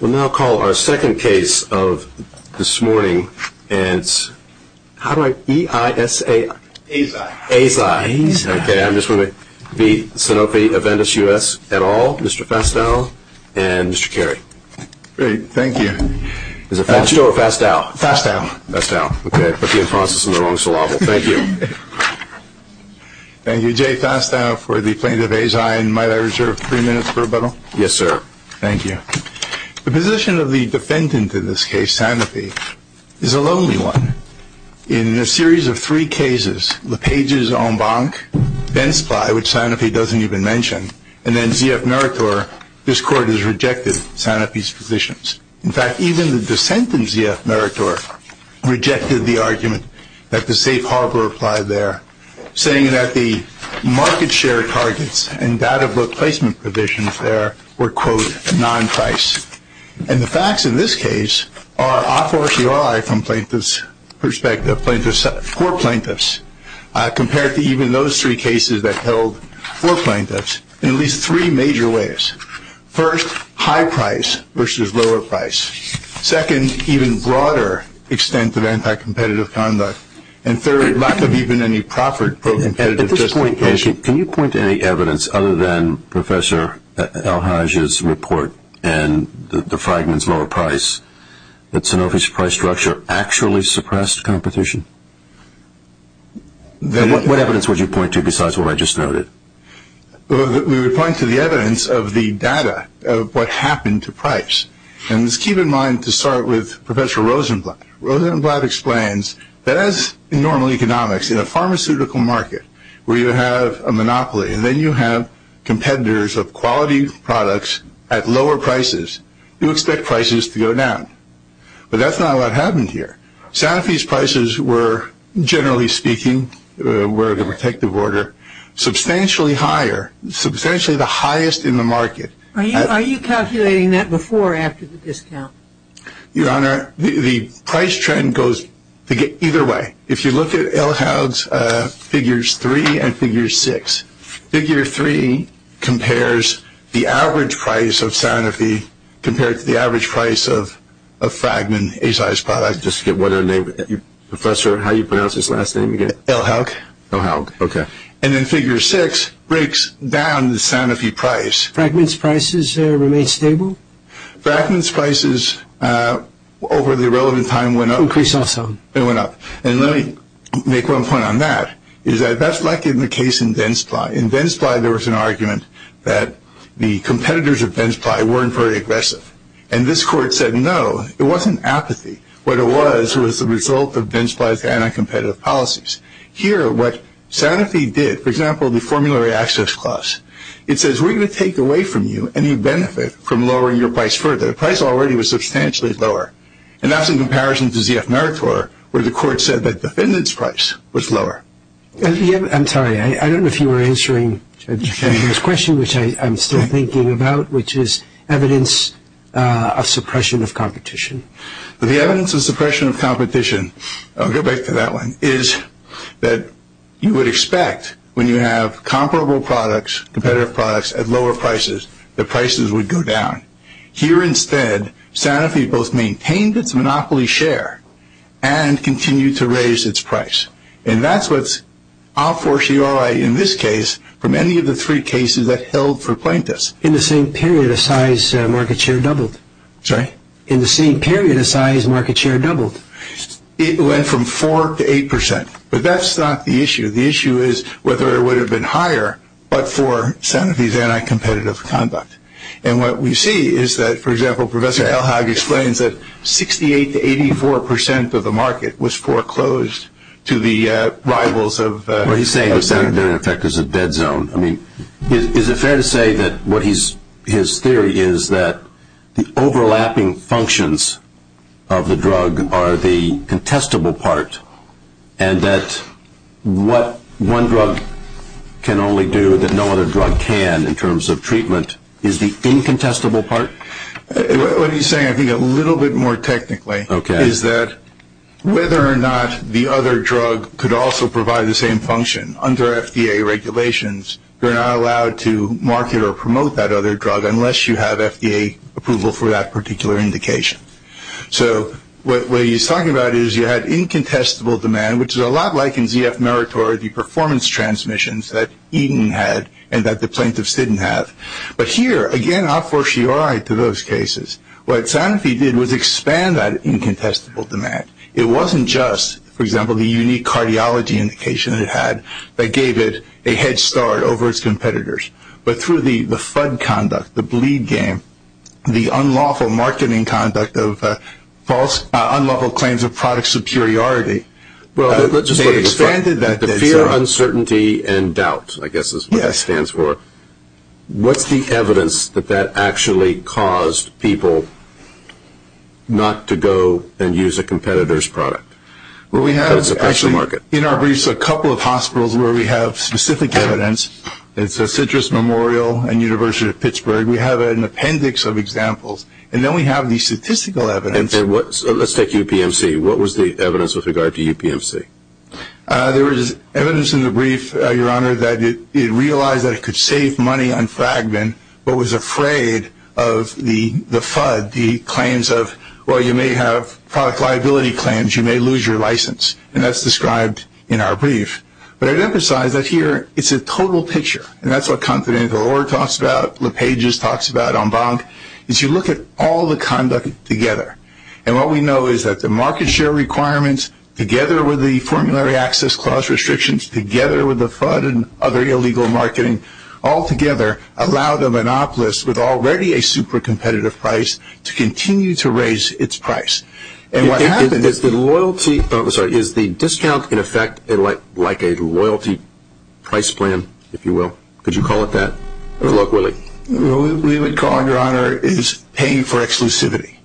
We'll now call our second case of this morning, and it's, how do I, E-I-S-A-I? Azai. Azai. Okay, I'm just going to be, Sanofi Aventis USLLC, Mr. Fastow, and Mr. Carey. Great, thank you. Is it Fastow or Fastow? Fastow. Fastow. Okay, put the impronses in the wrong syllable. Thank you. Thank you, Jay Fastow for the plaintiff Azai, and might I reserve three minutes for rebuttal? Yes, sir. Thank you. The position of the defendant in this case, Sanofi, is a lonely one. In a series of three cases, Lepage's en banc, Bensply, which Sanofi doesn't even mention, and then ZF Meritor, this court has rejected Sanofi's positions. In fact, even the dissent in ZF Meritor rejected the argument that the safe harbor applied there, saying that the market share targets and data book placement provisions there were, quote, non-price. And the facts in this case are a fortiori from plaintiff's perspective, for plaintiffs, compared to even those three cases that held for plaintiffs in at least three major ways. First, high price versus lower price. Second, even broader extent of anti-competitive conduct. And third, lack of even any proper competitive justification. At this point, can you point to any evidence other than Professor Elhage's report and the Fragment's lower price that Sanofi's price structure actually suppressed competition? What evidence would you point to besides what I just noted? We would point to the evidence of the data of what happened to price. And let's keep in mind to start with Professor Rosenblatt. Rosenblatt explains that as in normal economics, in a pharmaceutical market where you have a monopoly and then you have competitors of quality products at lower prices, you expect prices to go down. But that's not what happened here. Sanofi's prices were, generally speaking, were the protective order, substantially higher, substantially the highest in the market. Are you calculating that before or after the discount? Your Honor, the price trend goes either way. If you look at Elhage's Figures 3 and Figure 6, Figure 3 compares the average price of Sanofi compared to the average price of Fragment, a sized product. Professor, how do you pronounce his last name again? Elhage. Elhage, okay. And then Figure 6 breaks down the Sanofi price. Fragment's prices remain stable? Fragment's prices, over the relevant time, went up. Increased also. They went up. And let me make one point on that. That's like in the case of Densply. In Densply, there was an argument that the competitors of Densply weren't very aggressive. And this Court said no, it wasn't apathy. What it was was the result of Densply's anti-competitive policies. Here, what Sanofi did, for example, the formulary access clause, it says we're going to take away from you any benefit from lowering your price further. The price already was substantially lower. And that's in comparison to ZF-Narator, where the Court said that the defendant's price was lower. I'm sorry. I don't know if you were answering the gentleman's question, which I'm still thinking about, which is evidence of suppression of competition. The evidence of suppression of competition, I'll go back to that one, is that you would expect when you have comparable products, competitive products at lower prices, that prices would go down. Here instead, Sanofi both maintained its monopoly share and continued to raise its price. And that's what's a fortiori in this case from any of the three cases that held for plaintiffs. In the same period, a size market share doubled. Sorry? In the same period, a size market share doubled. It went from 4% to 8%. But that's not the issue. The issue is whether it would have been higher but for Sanofi's anti-competitive conduct. And what we see is that, for example, Professor Elhag explains that 68% to 84% of the market was foreclosed to the rivals of Sanofi. He's saying the Sanofi effect is a dead zone. Is it fair to say that his theory is that the overlapping functions of the drug are the contestable part and that what one drug can only do that no other drug can in terms of treatment is the incontestable part? What he's saying, I think, a little bit more technically, is that whether or not the other drug could also provide the same function under FDA regulations, you're not allowed to market or promote that other drug unless you have FDA approval for that particular indication. So what he's talking about is you had incontestable demand, which is a lot like in ZF Meritor, the performance transmissions that Eden had and that the plaintiffs didn't have. But here, again, a fortiori to those cases. What Sanofi did was expand that incontestable demand. It wasn't just, for example, the unique cardiology indication it had that gave it a head start over its competitors. But through the FUD conduct, the bleed game, the unlawful marketing conduct of false, unlawful claims of product superiority, they expanded that. The fear, uncertainty, and doubt, I guess is what that stands for. What's the evidence that that actually caused people not to go and use a competitor's product? Well, we have actually in our briefs a couple of hospitals where we have specific evidence. It's the Citrus Memorial and University of Pittsburgh. We have an appendix of examples. And then we have the statistical evidence. Let's take UPMC. What was the evidence with regard to UPMC? There was evidence in the brief, Your Honor, that it realized that it could save money on Fragman but was afraid of the FUD, the claims of, well, you may have product liability claims. You may lose your license. And that's described in our brief. But I'd emphasize that here it's a total picture. And that's what Confidential Law talks about, LePage's talks about, Embank, is you look at all the conduct together. And what we know is that the market share requirements, together with the formulary access clause restrictions, together with the FUD and other illegal marketing, all together allowed a monopolist with already a super competitive price to continue to raise its price. And what happened is the loyalty, sorry, is the discount in effect like a loyalty price plan, if you will? Look, Willie. What we would call, Your Honor, is paying for exclusivity.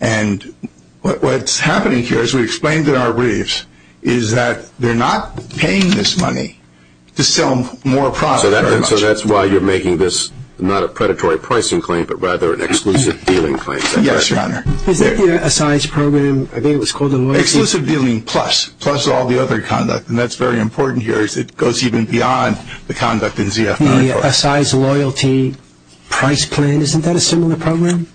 And what's happening here, as we explained in our briefs, is that they're not paying this money to sell more products. So that's why you're making this not a predatory pricing claim but rather an exclusive dealing claim. Yes, Your Honor. Is that the assigned program? I think it was called the loyalty. Exclusive dealing plus, plus all the other conduct. And that's very important here as it goes even beyond the conduct in ZF94. The assigned loyalty price plan, isn't that a similar program?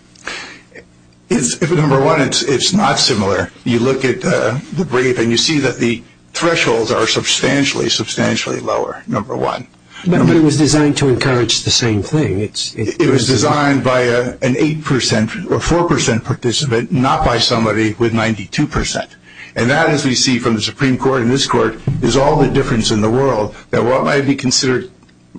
Number one, it's not similar. You look at the brief and you see that the thresholds are substantially, substantially lower, number one. But it was designed to encourage the same thing. It was designed by an 8% or 4% participant, not by somebody with 92%. And that, as we see from the Supreme Court and this Court, is all the difference in the world that while it might be considered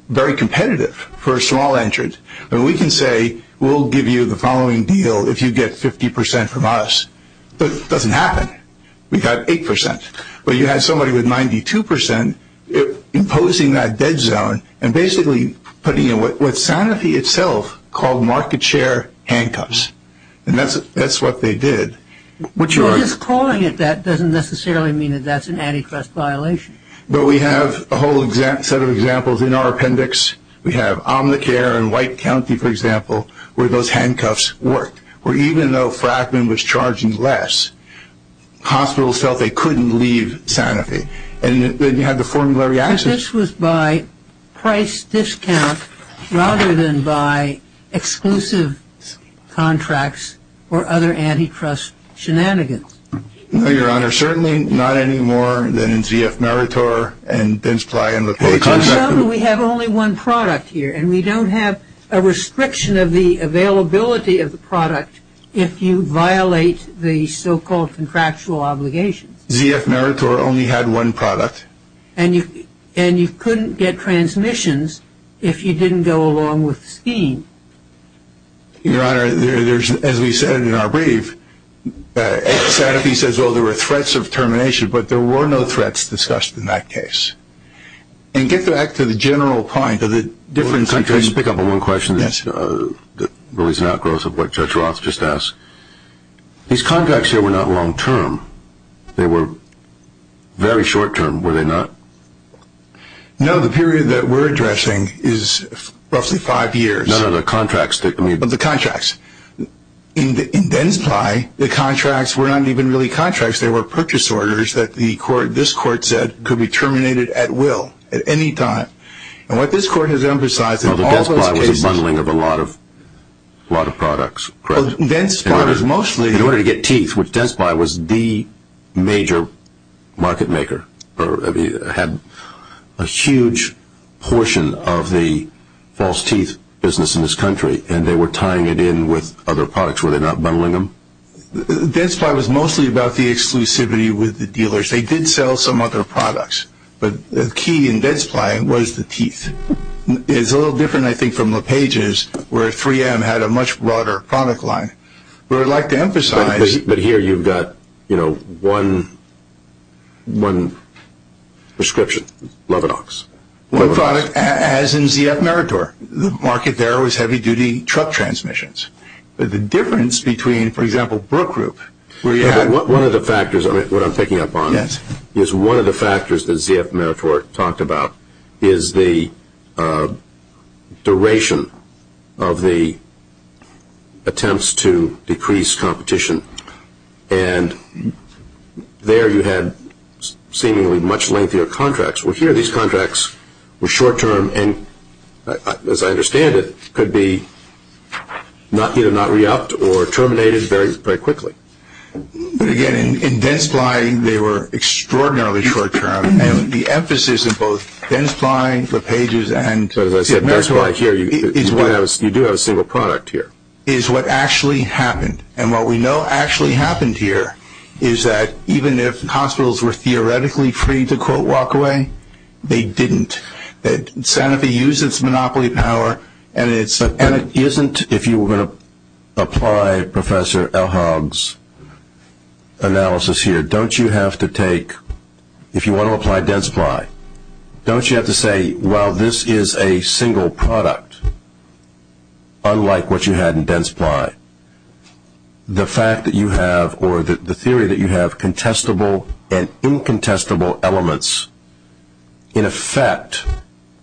very competitive for a small entrant, we can say we'll give you the following deal if you get 50% from us. But it doesn't happen. We got 8%. But you had somebody with 92% imposing that dead zone and basically putting in what Sanofi itself called market share handcuffs. And that's what they did. Your just calling it that doesn't necessarily mean that that's an antitrust violation. But we have a whole set of examples in our appendix. We have Omnicare in White County, for example, where those handcuffs worked. Where even though Frackman was charging less, hospitals felt they couldn't leave Sanofi. And then you had the formula reaction. This was by price discount rather than by exclusive contracts or other antitrust shenanigans. No, Your Honor, certainly not any more than in ZF Meritor and Benchply and LaPage. We have only one product here, and we don't have a restriction of the availability of the product if you violate the so-called contractual obligations. ZF Meritor only had one product. And you couldn't get transmissions if you didn't go along with the scheme. Your Honor, as we said in our brief, Sanofi says, well, there were threats of termination, but there were no threats discussed in that case. And get back to the general point of the different countries. Let me pick up on one question that really is an outgrowth of what Judge Roth just asked. These contracts here were not long-term. They were very short-term, were they not? No, the period that we're addressing is roughly five years. No, no, the contracts. But the contracts. In Densply, the contracts were not even really contracts. They were purchase orders that this Court said could be terminated at will at any time. And what this Court has emphasized in all those cases— Well, the Densply was a bundling of a lot of products, correct? Well, Densply was mostly— In order to get teeth, which Densply was the major market maker, had a huge portion of the false teeth business in this country, and they were tying it in with other products. Were they not bundling them? Densply was mostly about the exclusivity with the dealers. They did sell some other products. But the key in Densply was the teeth. It's a little different, I think, from LePage's, where 3M had a much broader product line. What I'd like to emphasize— But here you've got one prescription, Levinox. One product, as in ZF Meritor. The market there was heavy-duty truck transmissions. But the difference between, for example, Brook Group, where you had— One of the factors, what I'm picking up on, is one of the factors that ZF Meritor talked about is the duration of the attempts to decrease competition. And there you had seemingly much lengthier contracts. Well, here these contracts were short-term and, as I understand it, could be either not re-upped or terminated very quickly. But, again, in Densply, they were extraordinarily short-term. And the emphasis in both Densply, LePage's, and— As I said, Densply here, you do have a single product here. —is what actually happened. And what we know actually happened here is that even if hospitals were theoretically free to, quote, walk away, they didn't. Sanofi uses its monopoly power, and it's— And it isn't, if you were going to apply Professor Elhag's analysis here, don't you have to take— If you want to apply Densply, don't you have to say, while this is a single product, unlike what you had in Densply, the fact that you have, or the theory that you have, contestable and incontestable elements in effect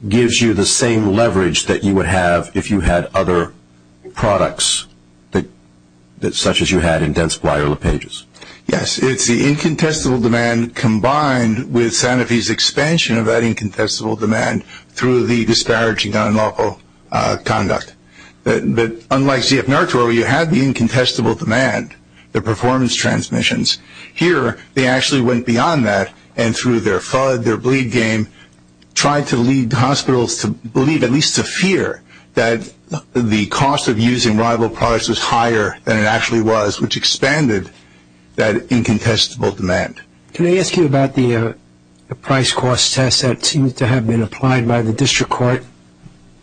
gives you the same leverage that you would have if you had other products, such as you had in Densply or LePage's. Yes, it's the incontestable demand combined with Sanofi's expansion of that incontestable demand through the disparaging unlawful conduct. But, unlike CF-Narco, you had the incontestable demand, the performance transmissions. Here, they actually went beyond that and, through their FUD, their bleed game, tried to lead hospitals to believe, at least to fear, that the cost of using rival products was higher than it actually was, which expanded that incontestable demand. Can I ask you about the price-cost test that seems to have been applied by the district court,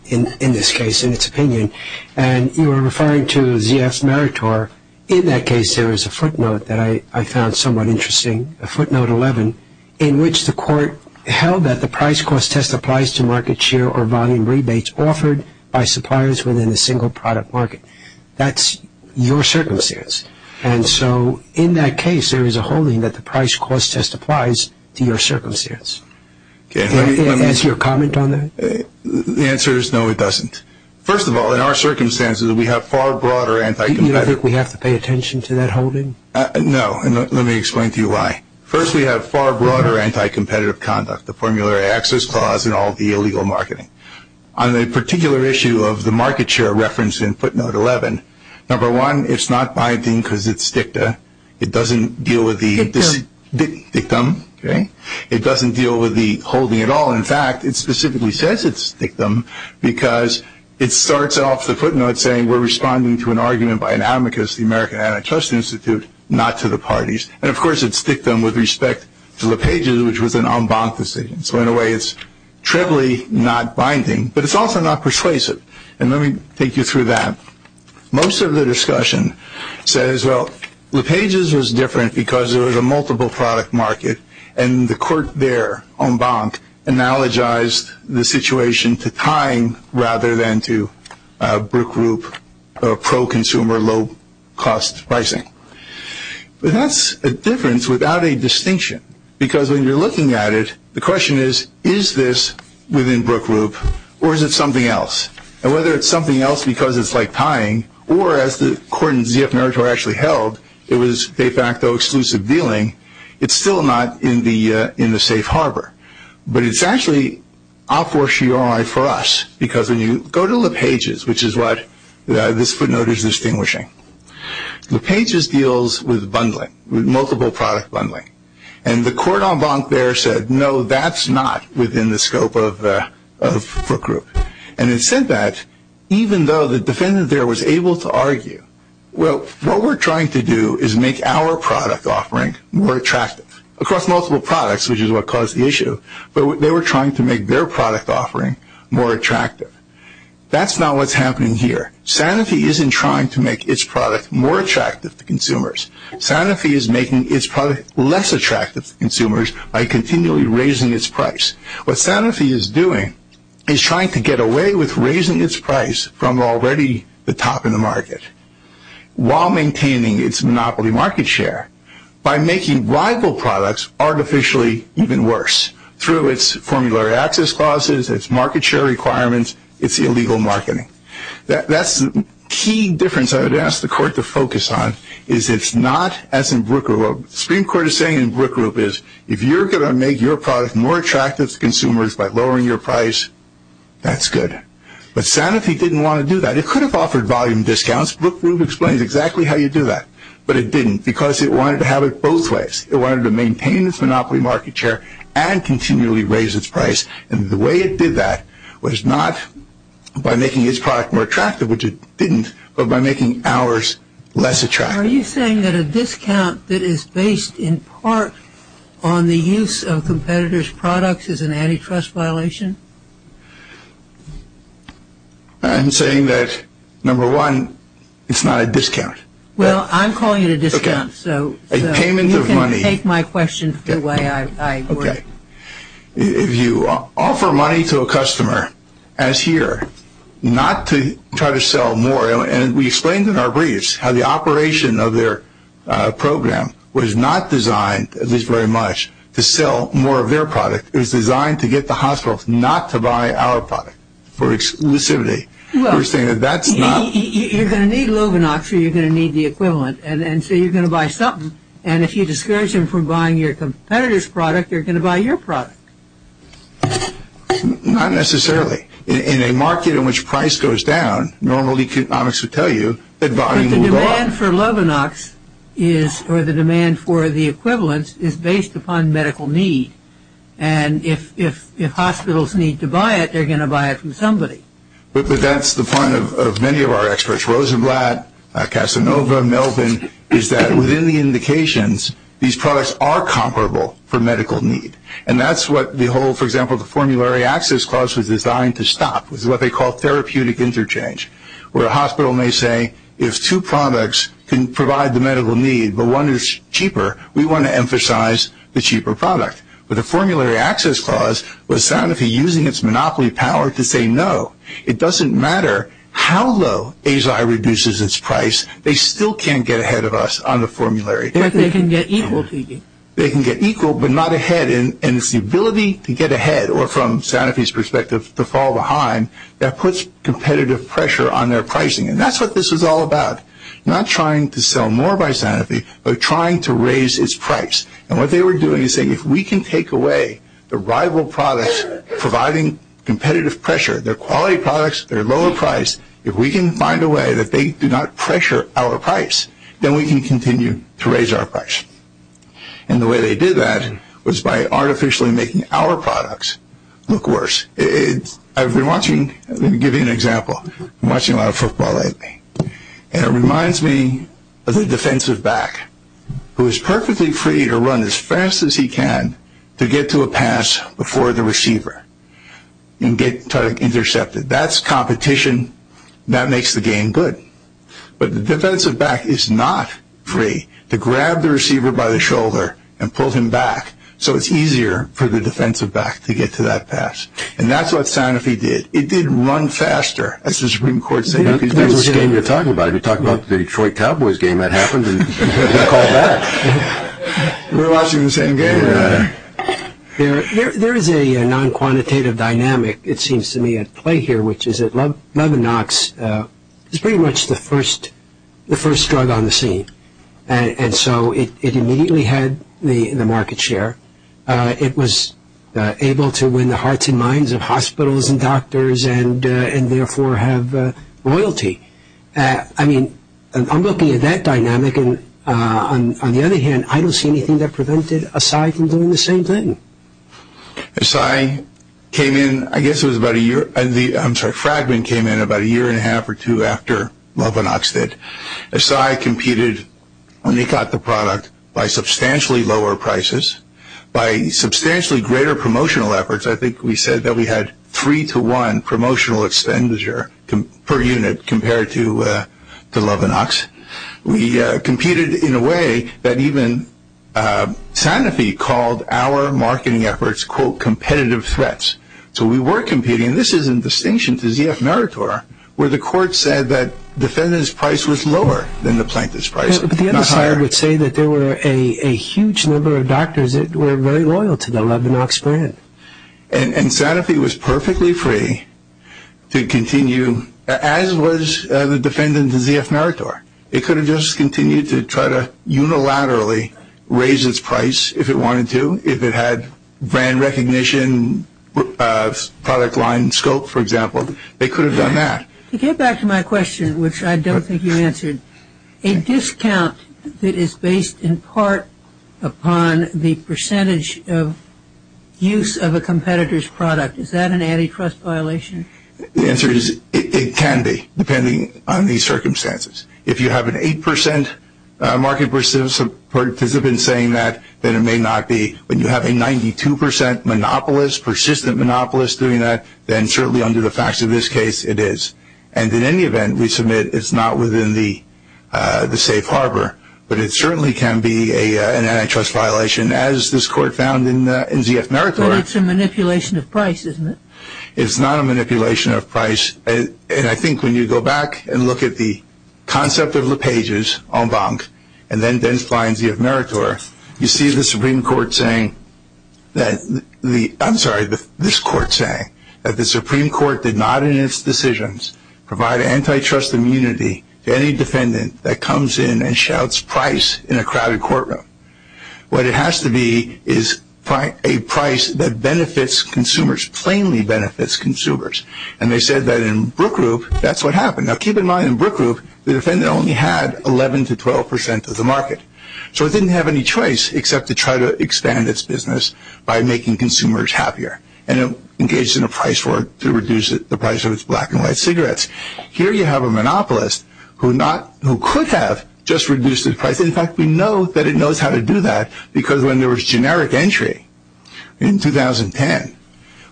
in this case, in its opinion, and you were referring to ZF-Meritor. In that case, there is a footnote that I found somewhat interesting, a footnote 11, in which the court held that the price-cost test applies to market share or volume rebates offered by suppliers within a single product market. That's your circumstance. And so, in that case, there is a holding that the price-cost test applies to your circumstance. Does that answer your comment on that? The answer is no, it doesn't. First of all, in our circumstances, we have far broader anti-competitive. Do you think we have to pay attention to that holding? No, and let me explain to you why. First, we have far broader anti-competitive conduct, the formulary access clause and all the illegal marketing. On the particular issue of the market share reference in footnote 11, number one, it's not binding because it's dicta. It doesn't deal with the dictum. It doesn't deal with the holding at all. In fact, it specifically says it's dictum because it starts off the footnote saying, we're responding to an argument by an amicus, the American Antitrust Institute, not to the parties. And, of course, it's dictum with respect to LePage's, which was an en banc decision. So, in a way, it's trivially not binding, but it's also not persuasive. And let me take you through that. Most of the discussion says, well, LePage's was different because there was a multiple product market and the court there, en banc, analogized the situation to tying rather than to Brook Group, pro-consumer, low-cost pricing. But that's a difference without a distinction because when you're looking at it, the question is, is this within Brook Group or is it something else? And whether it's something else because it's like tying or as the court in ZF Meritor actually held, it was de facto exclusive dealing, it's still not in the safe harbor. But it's actually a fortiori for us because when you go to LePage's, which is what this footnote is distinguishing, LePage's deals with bundling, with multiple product bundling. And the court en banc there said, no, that's not within the scope of Brook Group. And it said that even though the defendant there was able to argue, well, what we're trying to do is make our product offering more attractive across multiple products, which is what caused the issue, but they were trying to make their product offering more attractive. That's not what's happening here. Sanofi isn't trying to make its product more attractive to consumers. Sanofi is making its product less attractive to consumers by continually raising its price. What Sanofi is doing is trying to get away with raising its price from already the top in the market while maintaining its monopoly market share by making rival products artificially even worse through its formulary access clauses, its market share requirements, its illegal marketing. That's the key difference I would ask the court to focus on is it's not as in Brook Group. If you're going to make your product more attractive to consumers by lowering your price, that's good. But Sanofi didn't want to do that. It could have offered volume discounts. Brook Group explains exactly how you do that. But it didn't because it wanted to have it both ways. It wanted to maintain its monopoly market share and continually raise its price. And the way it did that was not by making its product more attractive, which it didn't, but by making ours less attractive. Are you saying that a discount that is based in part on the use of competitors' products is an antitrust violation? I'm saying that, number one, it's not a discount. Well, I'm calling it a discount. A payment of money. You can take my question the way I would. If you offer money to a customer, as here, not to try to sell more, and we explained in our briefs how the operation of their program was not designed, at least very much, to sell more of their product. It was designed to get the hospital not to buy our product for exclusivity. We're saying that that's not. Well, you're going to need Loganox or you're going to need the equivalent, and so you're going to buy something. And if you discourage them from buying your competitor's product, you're going to buy your product. Not necessarily. In a market in which price goes down, normally economics would tell you that volume will go up. But the demand for Loganox or the demand for the equivalents is based upon medical need. And if hospitals need to buy it, they're going to buy it from somebody. But that's the point of many of our experts, Rosenblatt, Casanova, Melvin, is that within the indications, these products are comparable for medical need. And that's what the whole, for example, the Formulary Access Clause was designed to stop, was what they call therapeutic interchange, where a hospital may say if two products can provide the medical need but one is cheaper, we want to emphasize the cheaper product. But the Formulary Access Clause was soundly using its monopoly power to say no. It doesn't matter how low ASI reduces its price. They still can't get ahead of us on the formulary. But they can get equal to you. They can get equal but not ahead. And it's the ability to get ahead, or from Sanofi's perspective, to fall behind, that puts competitive pressure on their pricing. And that's what this was all about, not trying to sell more by Sanofi, but trying to raise its price. And what they were doing is saying if we can take away the rival products providing competitive pressure, they're quality products, they're lower priced, if we can find a way that they do not pressure our price, then we can continue to raise our price. And the way they did that was by artificially making our products look worse. I've been watching, let me give you an example. I've been watching a lot of football lately. And it reminds me of the defensive back who is perfectly free to run as fast as he can to get to a pass before the receiver and get intercepted. That's competition. That makes the game good. But the defensive back is not free to grab the receiver by the shoulder and pull him back so it's easier for the defensive back to get to that pass. And that's what Sanofi did. It did run faster, as the Supreme Court said. That's the game you're talking about. If you're talking about the Detroit Cowboys game, that happened and they called back. We're watching the same game. There is a non-quantitative dynamic, it seems to me, at play here, which is that Levinox is pretty much the first drug on the scene. And so it immediately had the market share. It was able to win the hearts and minds of hospitals and doctors and, therefore, have royalty. On the other hand, I don't see anything that prevented Acai from doing the same thing. Acai came in, I guess it was about a year, I'm sorry, Fragment came in about a year and a half or two after Levinox did. Acai competed when they got the product by substantially lower prices, by substantially greater promotional efforts. I think we said that we had three to one promotional expenditure per unit compared to Levinox. We competed in a way that even Sanofi called our marketing efforts, quote, competitive threats. So we were competing, and this is in distinction to ZF Narator, where the court said that defendant's price was lower than the plaintiff's price, not higher. But the other side would say that there were a huge number of doctors that were very loyal to the Levinox brand. And Sanofi was perfectly free to continue, as was the defendant in ZF Narator. It could have just continued to try to unilaterally raise its price if it wanted to, if it had brand recognition, product line scope, for example. They could have done that. To get back to my question, which I don't think you answered, a discount that is based in part upon the percentage of use of a competitor's product. Is that an antitrust violation? The answer is it can be, depending on the circumstances. If you have an 8% market participant saying that, then it may not be. When you have a 92% monopolist, persistent monopolist doing that, then certainly under the facts of this case, it is. And in any event, we submit it's not within the safe harbor. But it certainly can be an antitrust violation, as this Court found in ZF Narator. But it's a manipulation of price, isn't it? It's not a manipulation of price. And I think when you go back and look at the concept of LePage's en banc, and then Densply and ZF Narator, you see the Supreme Court saying that the – provide antitrust immunity to any defendant that comes in and shouts price in a crowded courtroom. What it has to be is a price that benefits consumers, plainly benefits consumers. And they said that in Brook Group, that's what happened. Now keep in mind, in Brook Group, the defendant only had 11% to 12% of the market. So it didn't have any choice except to try to expand its business by making consumers happier. And it engaged in a price war to reduce the price of its black and white cigarettes. Here you have a monopolist who could have just reduced its price. In fact, we know that it knows how to do that because when there was generic entry in 2010,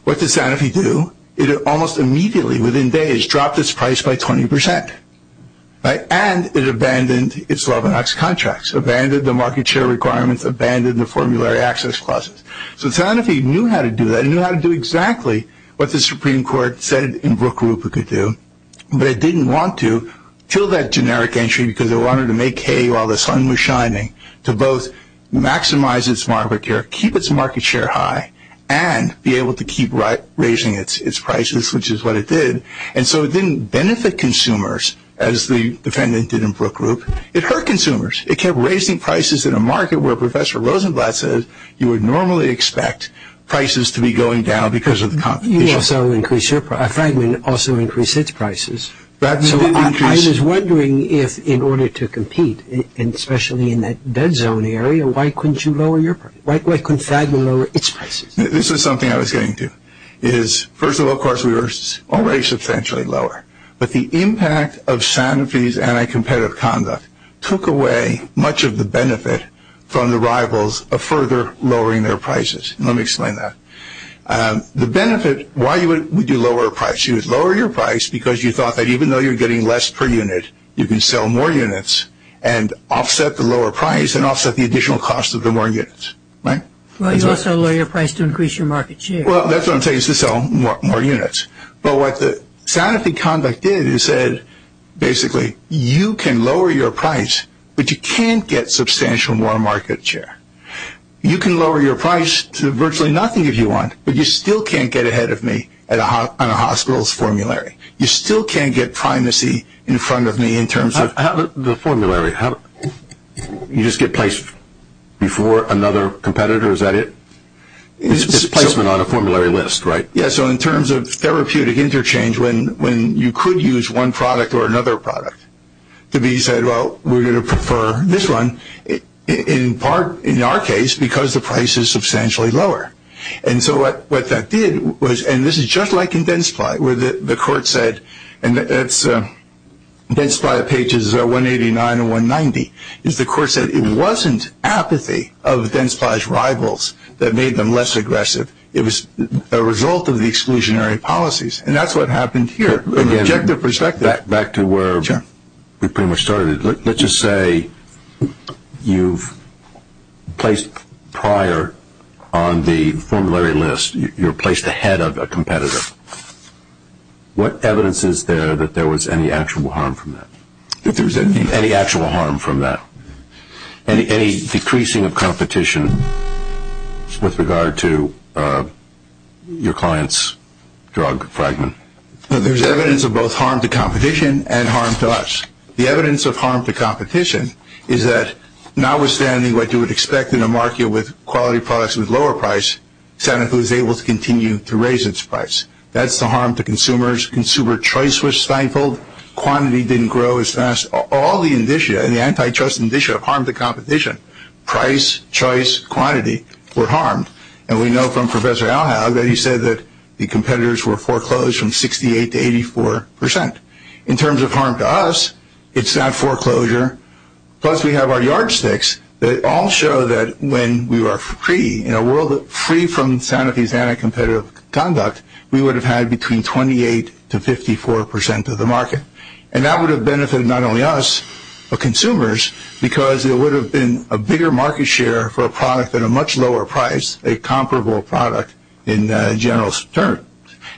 what did Sanofi do? It almost immediately, within days, dropped its price by 20%. Right? And it abandoned its LeBanonx contracts, abandoned the market share requirements, abandoned the formulary access clauses. So Sanofi knew how to do that. It knew how to do exactly what the Supreme Court said in Brook Group it could do. But it didn't want to till that generic entry because it wanted to make hay while the sun was shining to both maximize its market share, keep its market share high, and be able to keep raising its prices, which is what it did. And so it didn't benefit consumers as the defendant did in Brook Group. It hurt consumers. It kept raising prices in a market where Professor Rosenblatt said you would normally expect prices to be going down because of the competition. You also increased your price. Fragment also increased its prices. So I was wondering if in order to compete, and especially in that dead zone area, why couldn't you lower your price? Why couldn't Fragment lower its prices? This is something I was getting to. First of all, of course, we were already substantially lower. But the impact of Sanofi's anti-competitive conduct took away much of the benefit from the rivals of further lowering their prices. Let me explain that. The benefit, why would you lower a price? You would lower your price because you thought that even though you're getting less per unit, you can sell more units and offset the lower price and offset the additional cost of the more units, right? Well, you also lower your price to increase your market share. Well, that's what I'm saying is to sell more units. But what the Sanofi conduct did is said, basically, you can lower your price, but you can't get substantial more market share. You can lower your price to virtually nothing if you want, but you still can't get ahead of me on a hospital's formulary. You still can't get primacy in front of me in terms of the formulary. You just get placed before another competitor. Is that it? It's placement on a formulary list, right? Yeah, so in terms of therapeutic interchange, when you could use one product or another product, to be said, well, we're going to prefer this one, in part, in our case, because the price is substantially lower. And so what that did was, and this is just like in Densply, where the court said, and that's Densply pages 189 and 190, is the court said it wasn't apathy of Densply's rivals that made them less aggressive. It was a result of the exclusionary policies, and that's what happened here. Objective perspective. Back to where we pretty much started. Let's just say you've placed prior on the formulary list. You're placed ahead of a competitor. What evidence is there that there was any actual harm from that? Any actual harm from that? Any decreasing of competition with regard to your client's drug fragment? There's evidence of both harm to competition and harm to us. The evidence of harm to competition is that notwithstanding what you would expect in a market with quality products with lower price, someone who is able to continue to raise its price. That's the harm to consumers. Consumer choice was stifled. Quantity didn't grow as fast. All the anti-trust indicia of harm to competition, price, choice, quantity, were harmed. And we know from Professor Alhaug that he said that the competitors were foreclosed from 68% to 84%. In terms of harm to us, it's not foreclosure. Plus, we have our yardsticks that all show that when we were free, in a world free from Santa Fe's anti-competitive conduct, we would have had between 28% to 54% of the market. And that would have benefited not only us, but consumers, because it would have been a bigger market share for a product at a much lower price, a comparable product in general terms.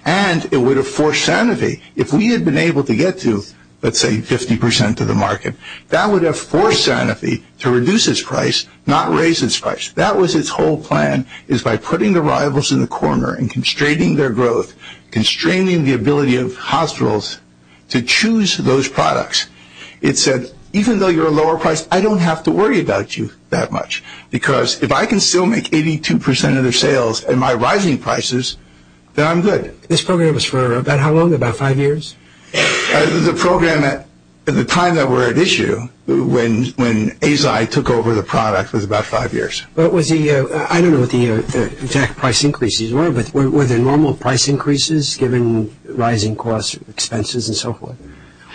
And it would have forced Santa Fe, if we had been able to get to, let's say, 50% of the market, that would have forced Santa Fe to reduce its price, not raise its price. That was its whole plan, is by putting the rivals in the corner and constraining their growth, constraining the ability of hospitals to choose those products. It said, even though you're a lower price, I don't have to worry about you that much, because if I can still make 82% of their sales at my rising prices, then I'm good. This program was for about how long, about five years? The program at the time that we're at issue, when ASI took over the product, was about five years. I don't know what the exact price increases were, but were there normal price increases given rising costs, expenses, and so forth?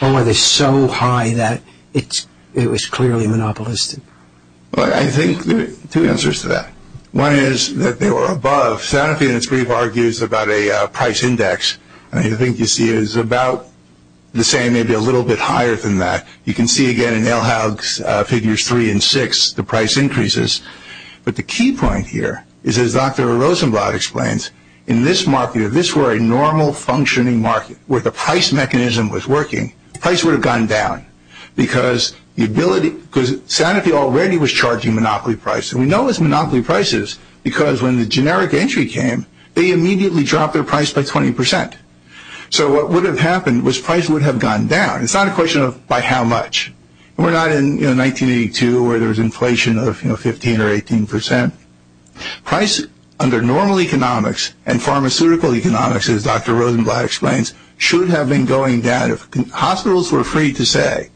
Or were they so high that it was clearly monopolistic? I think there are two answers to that. One is that they were above. Santa Fe, in its brief, argues about a price index. I think you see it as about the same, maybe a little bit higher than that. You can see, again, in Elhough's figures three and six, the price increases. But the key point here is, as Dr. Rosenblatt explains, in this market, if this were a normal functioning market where the price mechanism was working, price would have gone down, because Santa Fe already was charging monopoly price. And we know it was monopoly prices because when the generic entry came, they immediately dropped their price by 20%. So what would have happened was price would have gone down. It's not a question of by how much. We're not in 1982 where there was inflation of 15% or 18%. Price under normal economics and pharmaceutical economics, as Dr. Rosenblatt explains, should have been going down. Hospitals were free to say,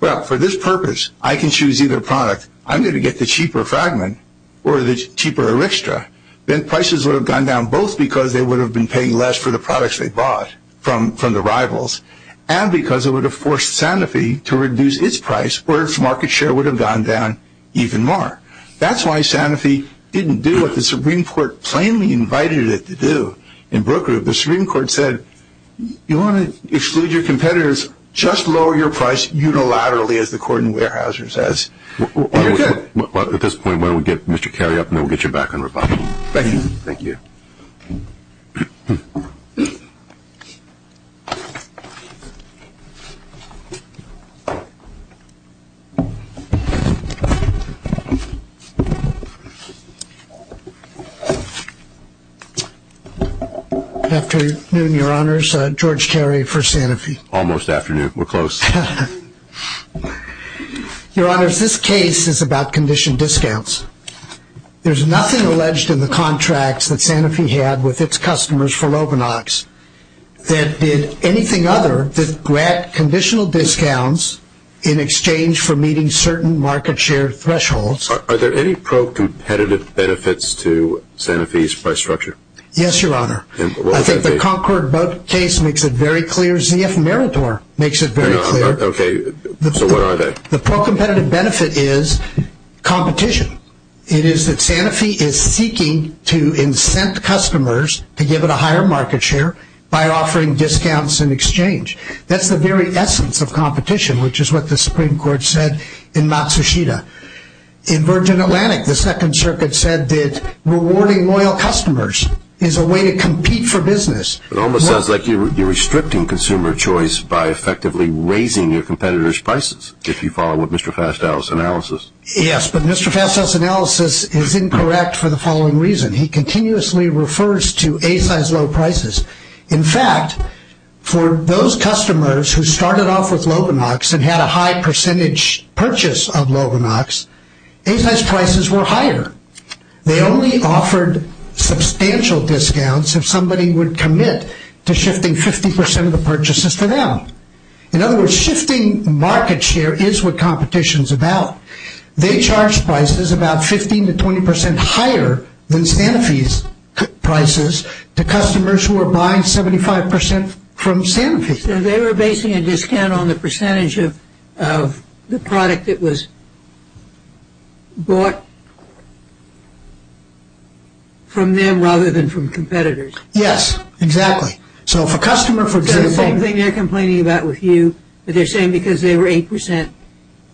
well, for this purpose, I can choose either product. I'm going to get the cheaper fragment or the cheaper eryxtra. Then prices would have gone down, both because they would have been paying less for the products they bought from the rivals and because it would have forced Santa Fe to reduce its price or its market share would have gone down even more. That's why Santa Fe didn't do what the Supreme Court plainly invited it to do in Brook Group. The Supreme Court said, you want to exclude your competitors, just lower your price unilaterally, as the court in Weyerhaeuser says, and you're good. At this point, why don't we get Mr. Carey up, and then we'll get you back on rebuttal. Thank you. Thank you. Good afternoon, Your Honors. George Carey for Santa Fe. Almost afternoon. We're close. Your Honors, this case is about condition discounts. There's nothing alleged in the contracts that Santa Fe had with its customers for Lovinox that did anything other than make a condition discount. None other than to grant conditional discounts in exchange for meeting certain market share thresholds. Are there any pro-competitive benefits to Santa Fe's price structure? Yes, Your Honor. I think the Concord case makes it very clear. ZF Meritor makes it very clear. Okay. So what are they? The pro-competitive benefit is competition. It is that Santa Fe is seeking to incent customers to give it a higher market share by offering discounts in exchange. That's the very essence of competition, which is what the Supreme Court said in Matsushita. In Virgin Atlantic, the Second Circuit said that rewarding loyal customers is a way to compete for business. It almost sounds like you're restricting consumer choice by effectively raising your competitors' prices, if you follow what Mr. Fastell's analysis. Yes, but Mr. Fastell's analysis is incorrect for the following reason. He continuously refers to A-size low prices. In fact, for those customers who started off with Loganox and had a high percentage purchase of Loganox, A-size prices were higher. They only offered substantial discounts if somebody would commit to shifting 50% of the purchases for them. In other words, shifting market share is what competition is about. They charge prices about 15% to 20% higher than Santa Fe's prices to customers who are buying 75% from Santa Fe. So they were basing a discount on the percentage of the product that was bought from them rather than from competitors. Yes, exactly. It's the same thing they're complaining about with you. They're saying because they were 8%,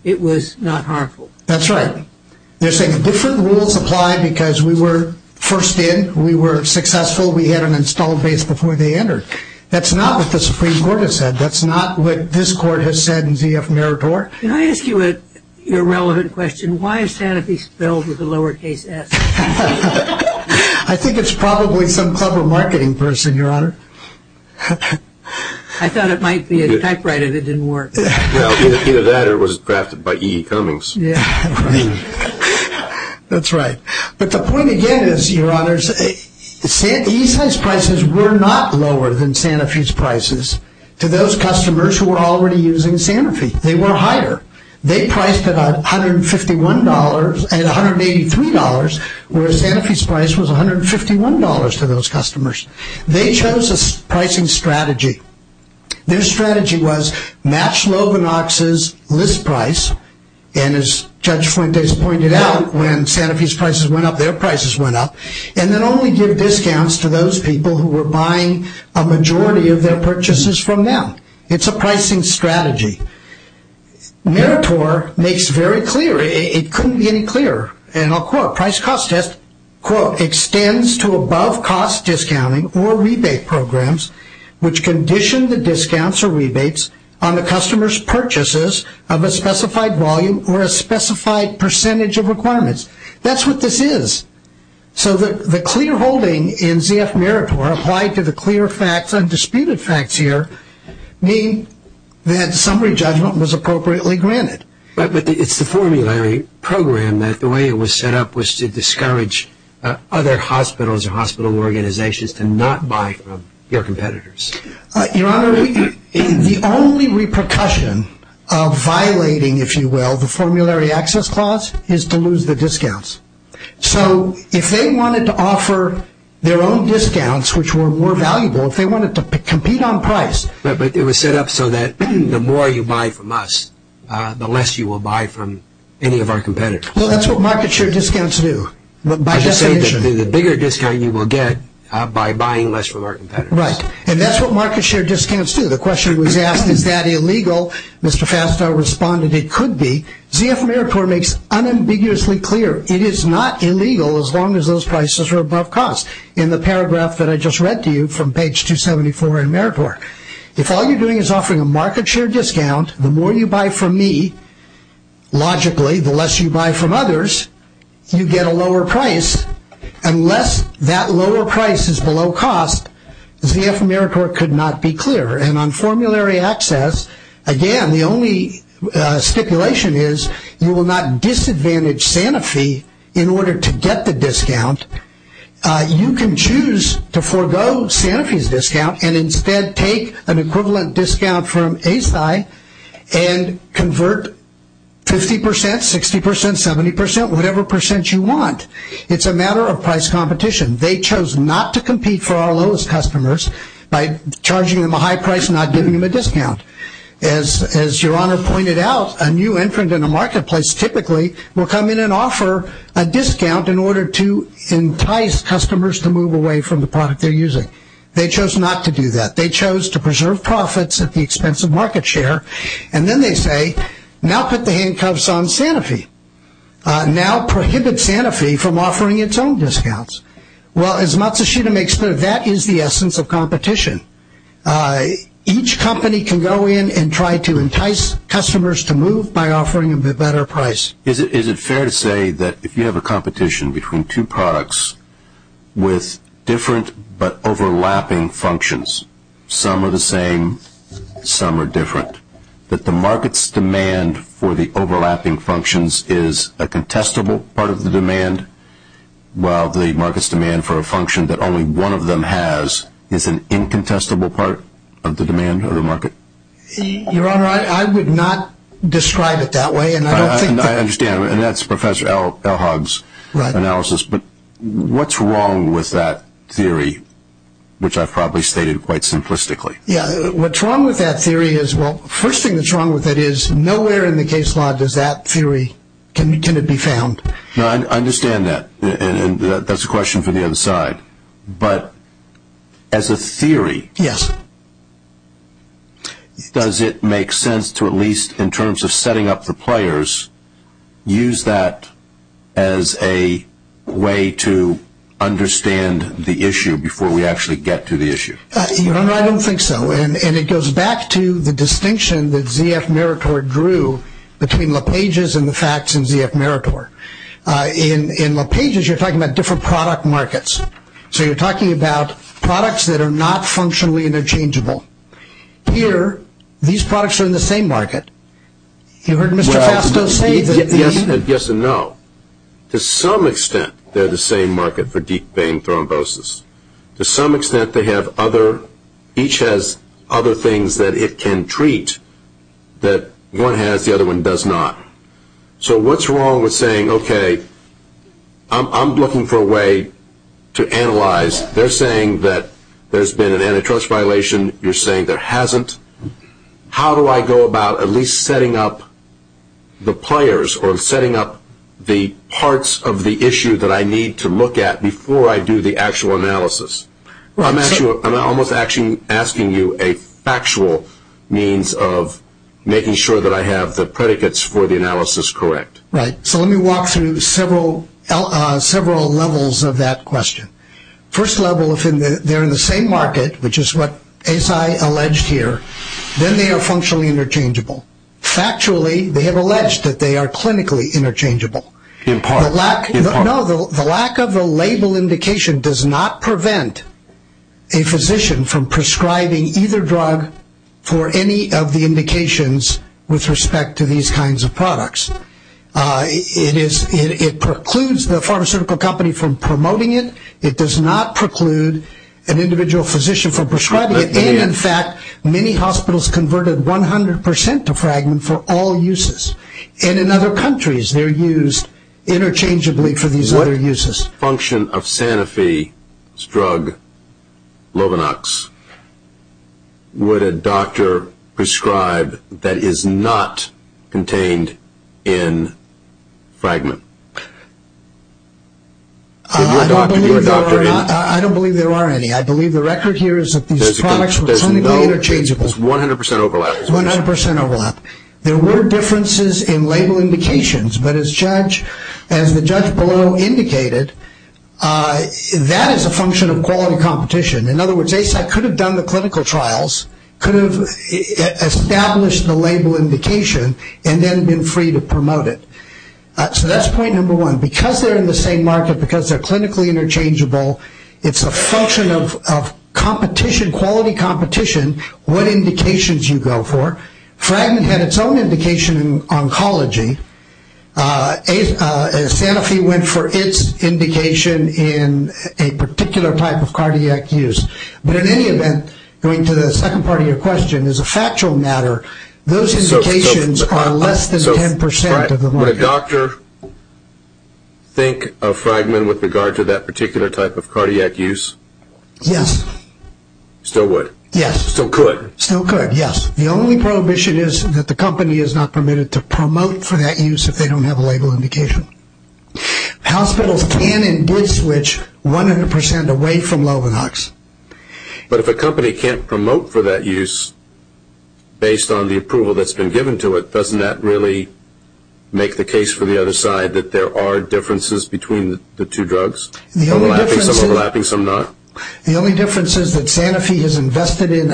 it was not harmful. That's right. They're saying different rules apply because we were first in, we were successful, we had an installed base before they entered. That's not what the Supreme Court has said. That's not what this Court has said in ZF Meritor. Can I ask you a relevant question? Why is Santa Fe spelled with a lowercase s? I think it's probably some clever marketing person, Your Honor. I thought it might be a typewriter that didn't work. Either that or it was crafted by E.E. Cummings. That's right. But the point again is, Your Honor, A-size prices were not lower than Santa Fe's prices to those customers who were already using Santa Fe. They were higher. They priced at $151 and $183, whereas Santa Fe's price was $151 to those customers. They chose a pricing strategy. Their strategy was match Lovinox's list price, and as Judge Fuentes pointed out, when Santa Fe's prices went up, their prices went up, and then only give discounts to those people who were buying a majority of their purchases from them. It's a pricing strategy. Meritor makes very clear. It couldn't be any clearer, and I'll quote. Price-cost test, quote, extends to above-cost discounting or rebate programs, which condition the discounts or rebates on the customer's purchases of a specified volume or a specified percentage of requirements. That's what this is. So the clear holding in ZF Meritor applied to the clear facts, undisputed facts here, mean that summary judgment was appropriately granted. But it's the formulary program that the way it was set up was to discourage other hospitals or hospital organizations to not buy from your competitors. Your Honor, the only repercussion of violating, if you will, the formulary access clause is to lose the discounts. So if they wanted to offer their own discounts, which were more valuable, if they wanted to compete on price. But it was set up so that the more you buy from us, the less you will buy from any of our competitors. Well, that's what market-share discounts do. By definition. The bigger discount you will get by buying less from our competitors. Right, and that's what market-share discounts do. The question was asked, is that illegal? Mr. Fastow responded, it could be. ZF Meritor makes unambiguously clear. It is not illegal as long as those prices are above cost. In the paragraph that I just read to you from page 274 in Meritor. If all you're doing is offering a market-share discount, the more you buy from me, logically, the less you buy from others, you get a lower price. Unless that lower price is below cost, ZF Meritor could not be clear. And on formulary access, again, the only stipulation is you will not disadvantage Sanofi in order to get the discount. You can choose to forego Sanofi's discount and instead take an equivalent discount from ASCI and convert 50%, 60%, 70%, whatever percent you want. It's a matter of price competition. They chose not to compete for our lowest customers by charging them a high price and not giving them a discount. As your Honor pointed out, a new entrant in a marketplace typically will come in and offer a discount in order to entice customers to move away from the product they're using. They chose not to do that. They chose to preserve profits at the expense of market-share. And then they say, now put the handcuffs on Sanofi. Now prohibit Sanofi from offering its own discounts. Well, as Matsushita makes clear, that is the essence of competition. Each company can go in and try to entice customers to move by offering a better price. Is it fair to say that if you have a competition between two products with different but overlapping functions, some are the same, some are different, that the market's demand for the overlapping functions is a contestable part of the demand while the market's demand for a function that only one of them has is an incontestable part of the demand or the market? Your Honor, I would not describe it that way. I understand. And that's Professor Elhag's analysis. But what's wrong with that theory, which I've probably stated quite simplistically? Yeah. What's wrong with that theory is, well, the first thing that's wrong with it is, nowhere in the case law does that theory, can it be found? I understand that. And that's a question for the other side. But as a theory, does it make sense to at least in terms of setting up the players, use that as a way to understand the issue before we actually get to the issue? Your Honor, I don't think so. And it goes back to the distinction that Z.F. Meritor drew between LePage's and the facts in Z.F. Meritor. In LePage's, you're talking about different product markets. So you're talking about products that are not functionally interchangeable. Here, these products are in the same market. You heard Mr. Fasto say that the – Yes and no. To some extent, they're the same market for deep vein thrombosis. To some extent, they have other – each has other things that it can treat that one has, the other one does not. So what's wrong with saying, okay, I'm looking for a way to analyze. They're saying that there's been an antitrust violation. You're saying there hasn't. How do I go about at least setting up the players or setting up the parts of the issue that I need to look at before I do the actual analysis? I'm almost actually asking you a factual means of making sure that I have the predicates for the analysis correct. Right. So let me walk through several levels of that question. First level, if they're in the same market, which is what ASI alleged here, then they are functionally interchangeable. Factually, they have alleged that they are clinically interchangeable. In part. No, the lack of a label indication does not prevent a physician from prescribing either drug for any of the indications with respect to these kinds of products. It precludes the pharmaceutical company from promoting it. It does not preclude an individual physician from prescribing it. And, in fact, many hospitals converted 100% to Fragment for all uses. And in other countries, they're used interchangeably for these other uses. What function of Sanofi's drug, Lovinox, would a doctor prescribe that is not contained in Fragment? I don't believe there are any. I believe the record here is that these products were clinically interchangeable. There's 100% overlap. 100% overlap. There were differences in label indications, but as the judge below indicated, that is a function of quality competition. In other words, ASI could have done the clinical trials, could have established the label indication, and then been free to promote it. So that's point number one. Because they're in the same market, because they're clinically interchangeable, it's a function of competition, quality competition, what indications you go for. Fragment had its own indication in oncology. Sanofi went for its indication in a particular type of cardiac use. But in any event, going to the second part of your question, as a factual matter, those indications are less than 10% of the market. Would a doctor think of Fragment with regard to that particular type of cardiac use? Yes. Still would? Yes. Still could? Still could, yes. The only prohibition is that the company is not permitted to promote for that use if they don't have a label indication. Hospitals can and did switch 100% away from Lovinox. But if a company can't promote for that use based on the approval that's been given to it, doesn't that really make the case for the other side that there are differences between the two drugs? Some overlapping, some not? The only difference is that Sanofi has invested in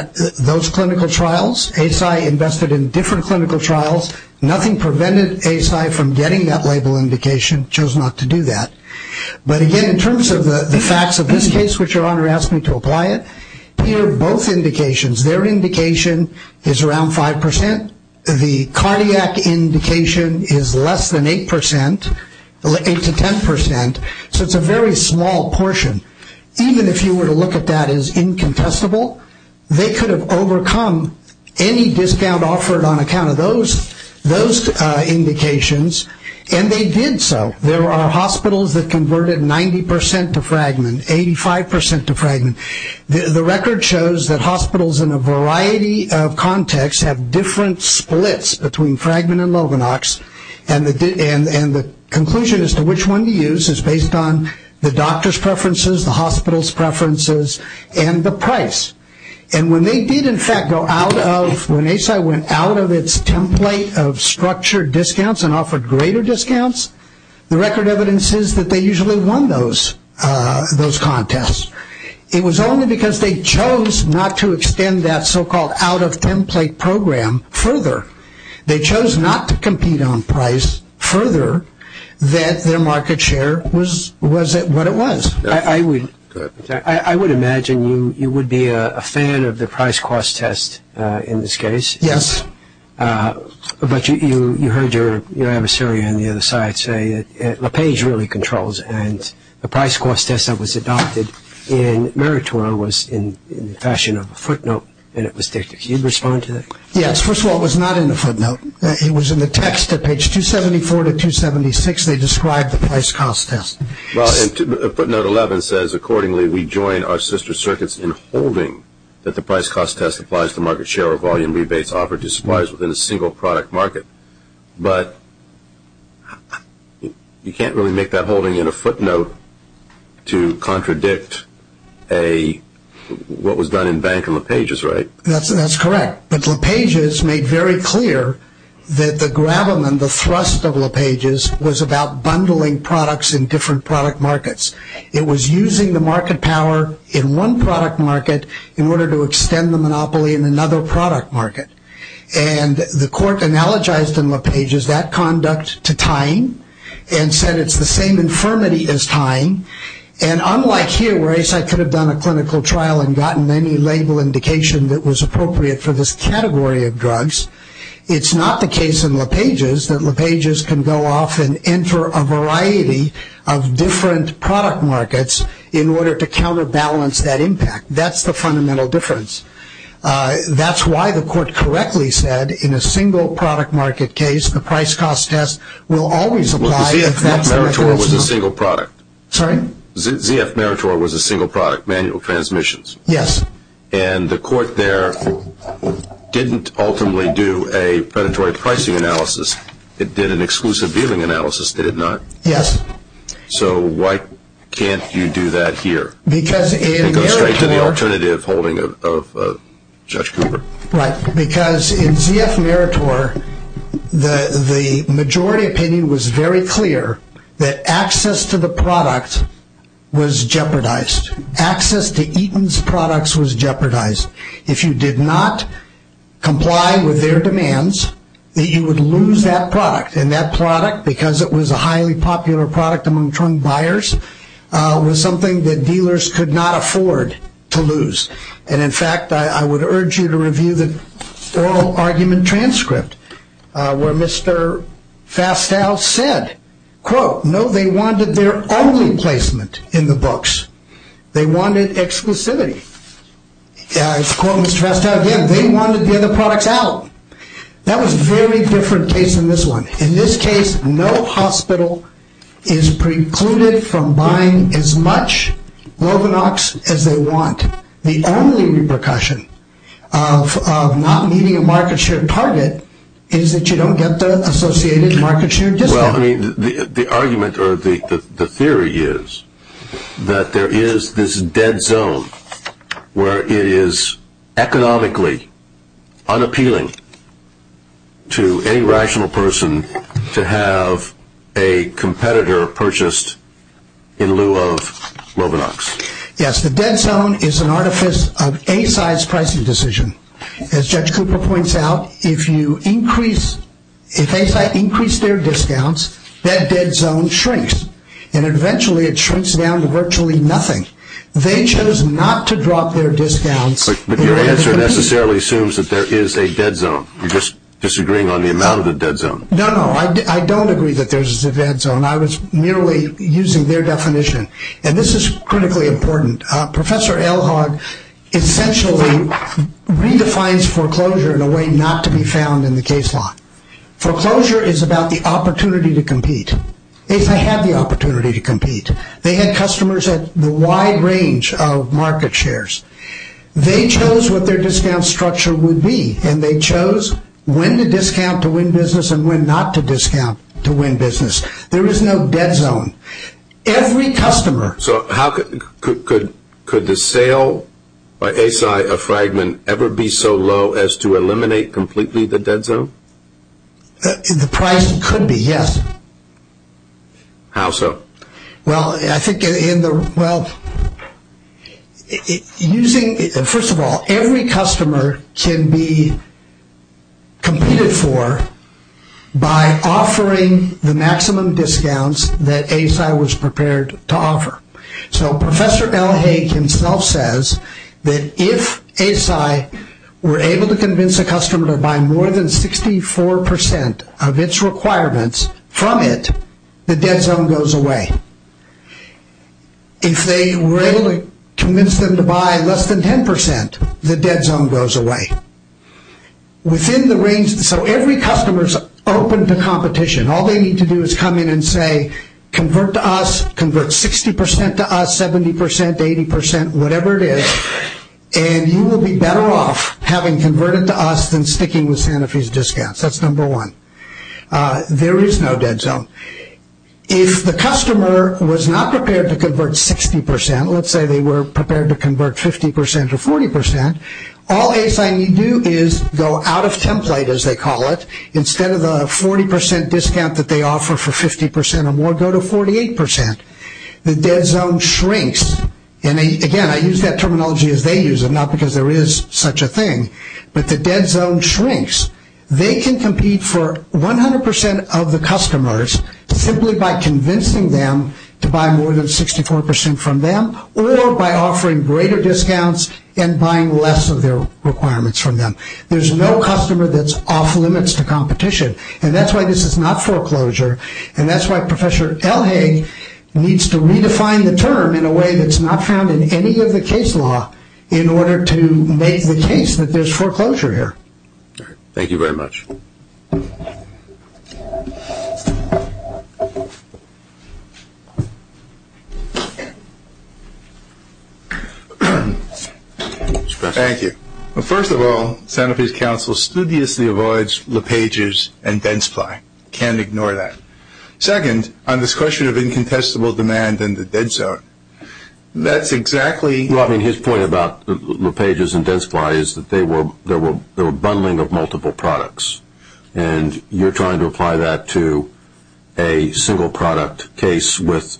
those clinical trials. ASI invested in different clinical trials. Nothing prevented ASI from getting that label indication. Chose not to do that. But, again, in terms of the facts of this case, which your Honor asked me to apply it, here both indications, their indication is around 5%. The cardiac indication is less than 8%, 8% to 10%. So it's a very small portion. Even if you were to look at that as incontestable, they could have overcome any discount offered on account of those indications, and they did so. There are hospitals that converted 90% to Fragment, 85% to Fragment. The record shows that hospitals in a variety of contexts have different splits between Fragment and Loganox, and the conclusion as to which one to use is based on the doctor's preferences, the hospital's preferences, and the price. And when they did, in fact, go out of, when ASI went out of its template of structured discounts and offered greater discounts, the record evidence is that they usually won those contests. It was only because they chose not to extend that so-called out-of-template program further, they chose not to compete on price further, that their market share was what it was. I would imagine you would be a fan of the price-cost test in this case. Yes. But you heard your adversary on the other side say LaPage really controls, and the price-cost test that was adopted in Meritora was in the fashion of a footnote, and it was dictated. Can you respond to that? Yes. First of all, it was not in the footnote. It was in the text at page 274 to 276. They described the price-cost test. Well, footnote 11 says, Accordingly, we join our sister circuits in holding that the price-cost test applies to market share or volume rebates offered to suppliers within a single product market. But you can't really make that holding in a footnote to contradict what was done in Bank and LaPage's, right? That's correct. But LaPage has made very clear that the gravamen, the thrust of LaPage's, was about bundling products in different product markets. It was using the market power in one product market in order to extend the monopoly in another product market. And the court analogized in LaPage's that conduct to tying and said it's the same infirmity as tying. And unlike here, where ASAP could have done a clinical trial and gotten any label indication that was appropriate for this category of drugs, it's not the case in LaPage's that LaPage's can go off and enter a variety of different product markets in order to counterbalance that impact. That's the fundamental difference. That's why the court correctly said in a single product market case, the price-cost test will always apply if that's the record. ZF Meritor was a single product. Sorry? ZF Meritor was a single product, manual transmissions. Yes. And the court there didn't ultimately do a predatory pricing analysis. It did an exclusive dealing analysis, did it not? Yes. So why can't you do that here? It goes straight to the alternative holding of Judge Cooper. Right. Because in ZF Meritor, the majority opinion was very clear that access to the product was jeopardized. Access to Eaton's products was jeopardized. If you did not comply with their demands, you would lose that product. And that product, because it was a highly popular product among drug buyers, was something that dealers could not afford to lose. And, in fact, I would urge you to review the oral argument transcript, where Mr. Fastow said, quote, no, they wanted their only placement in the books. They wanted exclusivity. Quote Mr. Fastow again, they wanted the other products out. That was a very different case than this one. In this case, no hospital is precluded from buying as much Lovenox as they want. The only repercussion of not meeting a market share target is that you don't get the associated market share discount. The argument or the theory is that there is this dead zone where it is economically unappealing to any rational person to have a competitor purchased in lieu of Lovenox. Yes, the dead zone is an artifice of ASCI's pricing decision. As Judge Cooper points out, if ASCI increased their discounts, that dead zone shrinks. And eventually it shrinks down to virtually nothing. They chose not to drop their discounts. But your answer necessarily assumes that there is a dead zone. You're just disagreeing on the amount of the dead zone. No, no, I don't agree that there is a dead zone. I was merely using their definition. And this is critically important. Professor Elhag essentially redefines foreclosure in a way not to be found in the case law. Foreclosure is about the opportunity to compete. They had the opportunity to compete. They had customers at the wide range of market shares. They chose what their discount structure would be. And they chose when to discount to win business and when not to discount to win business. There is no dead zone. So could the sale by ASCI of Fragment ever be so low as to eliminate completely the dead zone? The price could be, yes. How so? Well, I think in the, well, using, first of all, every customer can be competed for by offering the maximum discounts that ASCI was prepared to offer. So Professor Elhag himself says that if ASCI were able to convince a customer to buy more than 64% of its requirements from it, the dead zone goes away. If they were able to convince them to buy less than 10%, the dead zone goes away. Within the range, so every customer is open to competition. All they need to do is come in and say, convert to us, convert 60% to us, 70%, 80%, whatever it is, and you will be better off having converted to us than sticking with Santa Fe's discounts. That's number one. There is no dead zone. If the customer was not prepared to convert 60%, let's say they were prepared to convert 50% or 40%, all ASCI need do is go out of template, as they call it, instead of the 40% discount that they offer for 50% or more, go to 48%. The dead zone shrinks, and again, I use that terminology as they use it, not because there is such a thing, but the dead zone shrinks. They can compete for 100% of the customers simply by convincing them to buy more than 64% from them, or by offering greater discounts and buying less of their requirements from them. There is no customer that's off limits to competition, and that's why this is not foreclosure, and that's why Professor Elhage needs to redefine the term in a way that's not found in any of the case law in order to make the case that there is foreclosure here. Thank you very much. Thank you. First of all, Santa Fe's Council studiously avoids lepages and dead supply. Can't ignore that. Second, on this question of incontestable demand and the dead zone, that's exactly Well, I mean, his point about lepages and dead supply is that they were bundling of multiple products, and you're trying to apply that to a single product case with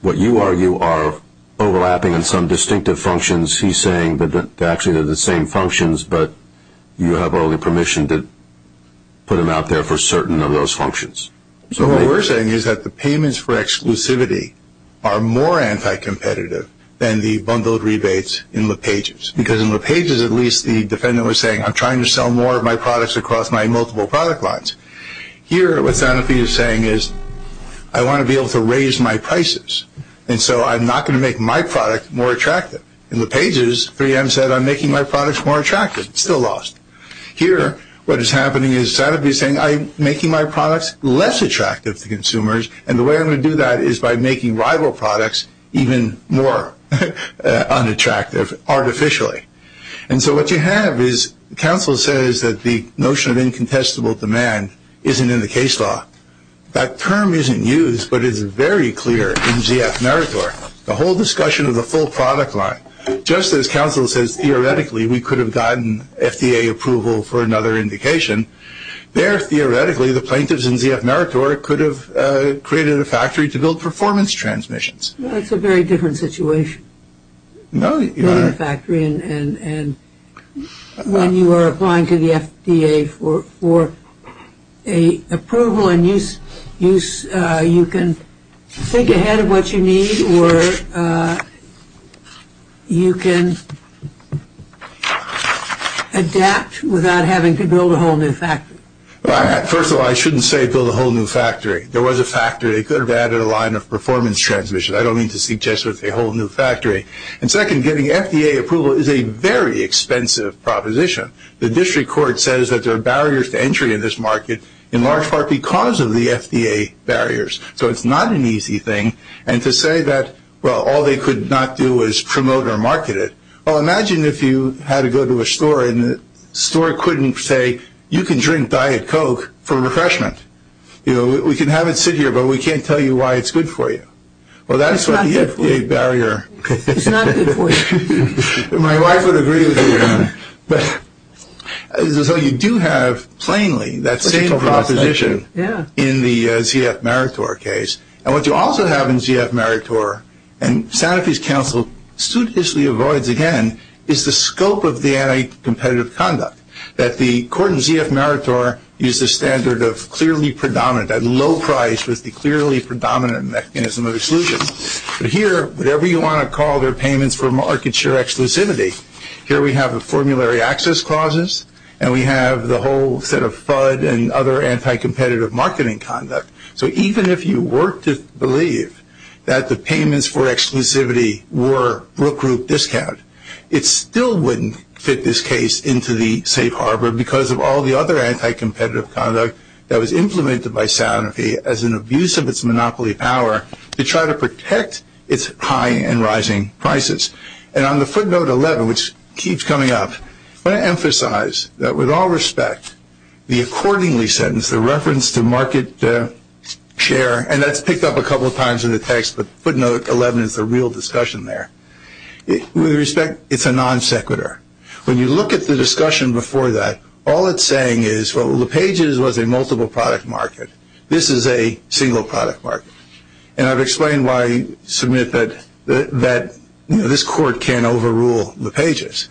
what you argue are overlapping and some distinctive functions. He's saying that actually they're the same functions, but you have only permission to put them out there for certain of those functions. So what we're saying is that the payments for exclusivity are more anti-competitive than the bundled rebates in lepages, because in lepages at least the defendant was saying, I'm trying to sell more of my products across my multiple product lines. Here what Santa Fe is saying is I want to be able to raise my prices, and so I'm not going to make my product more attractive. In lepages, 3M said I'm making my products more attractive. It's still lost. Here what is happening is Santa Fe is saying I'm making my products less attractive to consumers, and the way I'm going to do that is by making rival products even more unattractive artificially. And so what you have is counsel says that the notion of incontestable demand isn't in the case law. That term isn't used, but it's very clear in ZF Meritor, the whole discussion of the full product line. Just as counsel says theoretically we could have gotten FDA approval for another indication, there theoretically the plaintiffs in ZF Meritor could have created a factory to build performance transmissions. That's a very different situation. No, Your Honor. And when you are applying to the FDA for approval and use, you can think ahead of what you need or you can adapt without having to build a whole new factory. First of all, I shouldn't say build a whole new factory. There was a factory. It could have added a line of performance transmission. I don't mean to suggest a whole new factory. And second, getting FDA approval is a very expensive proposition. The district court says that there are barriers to entry in this market in large part because of the FDA barriers. So it's not an easy thing. And to say that, well, all they could not do is promote or market it. Well, imagine if you had to go to a store and the store couldn't say you can drink Diet Coke for refreshment. You know, we can have it sit here, but we can't tell you why it's good for you. Well, that's why the FDA barrier. It's not good for you. My wife would agree with you, Your Honor. So you do have, plainly, that same proposition in the ZF Maritor case. And what you also have in ZF Maritor, and Santa Fe's counsel suitlessly avoids again, is the scope of the anti-competitive conduct, that the court in ZF Maritor used the standard of clearly predominant, that low price was the clearly predominant mechanism of exclusion. But here, whatever you want to call their payments for market share exclusivity, here we have the formulary access clauses, and we have the whole set of FUD and other anti-competitive marketing conduct. So even if you were to believe that the payments for exclusivity were real group discount, it still wouldn't fit this case into the safe harbor because of all the other anti-competitive conduct that was implemented by Santa Fe as an abuse of its monopoly power to try to protect its high and rising prices. And on the footnote 11, which keeps coming up, I want to emphasize that with all respect, the accordingly sentence, the reference to market share, and that's picked up a couple of times in the text, but footnote 11 is the real discussion there. With respect, it's a non sequitur. When you look at the discussion before that, all it's saying is, well, LePage's was a multiple product market. This is a single product market. And I've explained why I submit that this court can't overrule LePage's.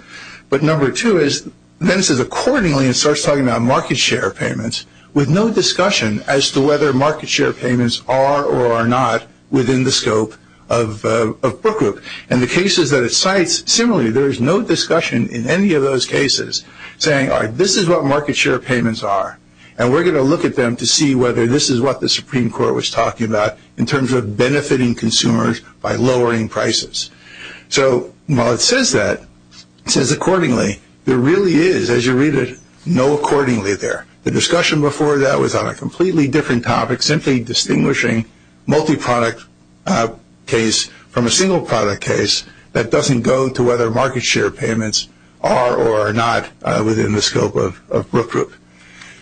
But number two is, then it says accordingly it starts talking about market share payments with no discussion as to whether market share payments are or are not within the scope of Book Group. And the cases that it cites, similarly, there is no discussion in any of those cases saying, all right, this is what market share payments are, and we're going to look at them to see whether this is what the Supreme Court was talking about in terms of benefiting consumers by lowering prices. So while it says that, it says accordingly, there really is, as you read it, no accordingly there. The discussion before that was on a completely different topic, simply distinguishing multi-product case from a single product case that doesn't go to whether market share payments are or are not within the scope of Book Group.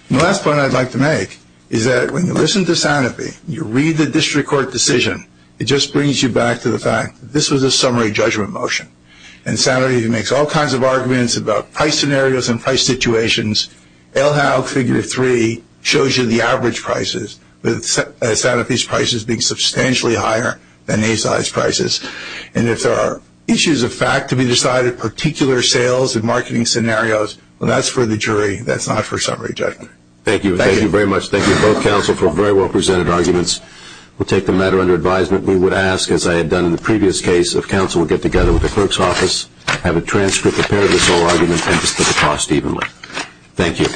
The last point I'd like to make is that when you listen to Sanofi, you read the district court decision, it just brings you back to the fact that this was a summary judgment motion. And Sanofi makes all kinds of arguments about price scenarios and price situations. LHAL Fig. 3 shows you the average prices, with Sanofi's prices being substantially higher than ASI's prices. And if there are issues of fact to be decided, particular sales and marketing scenarios, well, that's for the jury. That's not for summary judgment. Thank you. Thank you very much. Thank you both, counsel, for very well presented arguments. We'll take the matter under advisement. We would ask, as I had done in the previous case, if counsel would get together with the clerk's office, have a transcript, a pair of the sole argument, and just put the cost evenly. Thank you.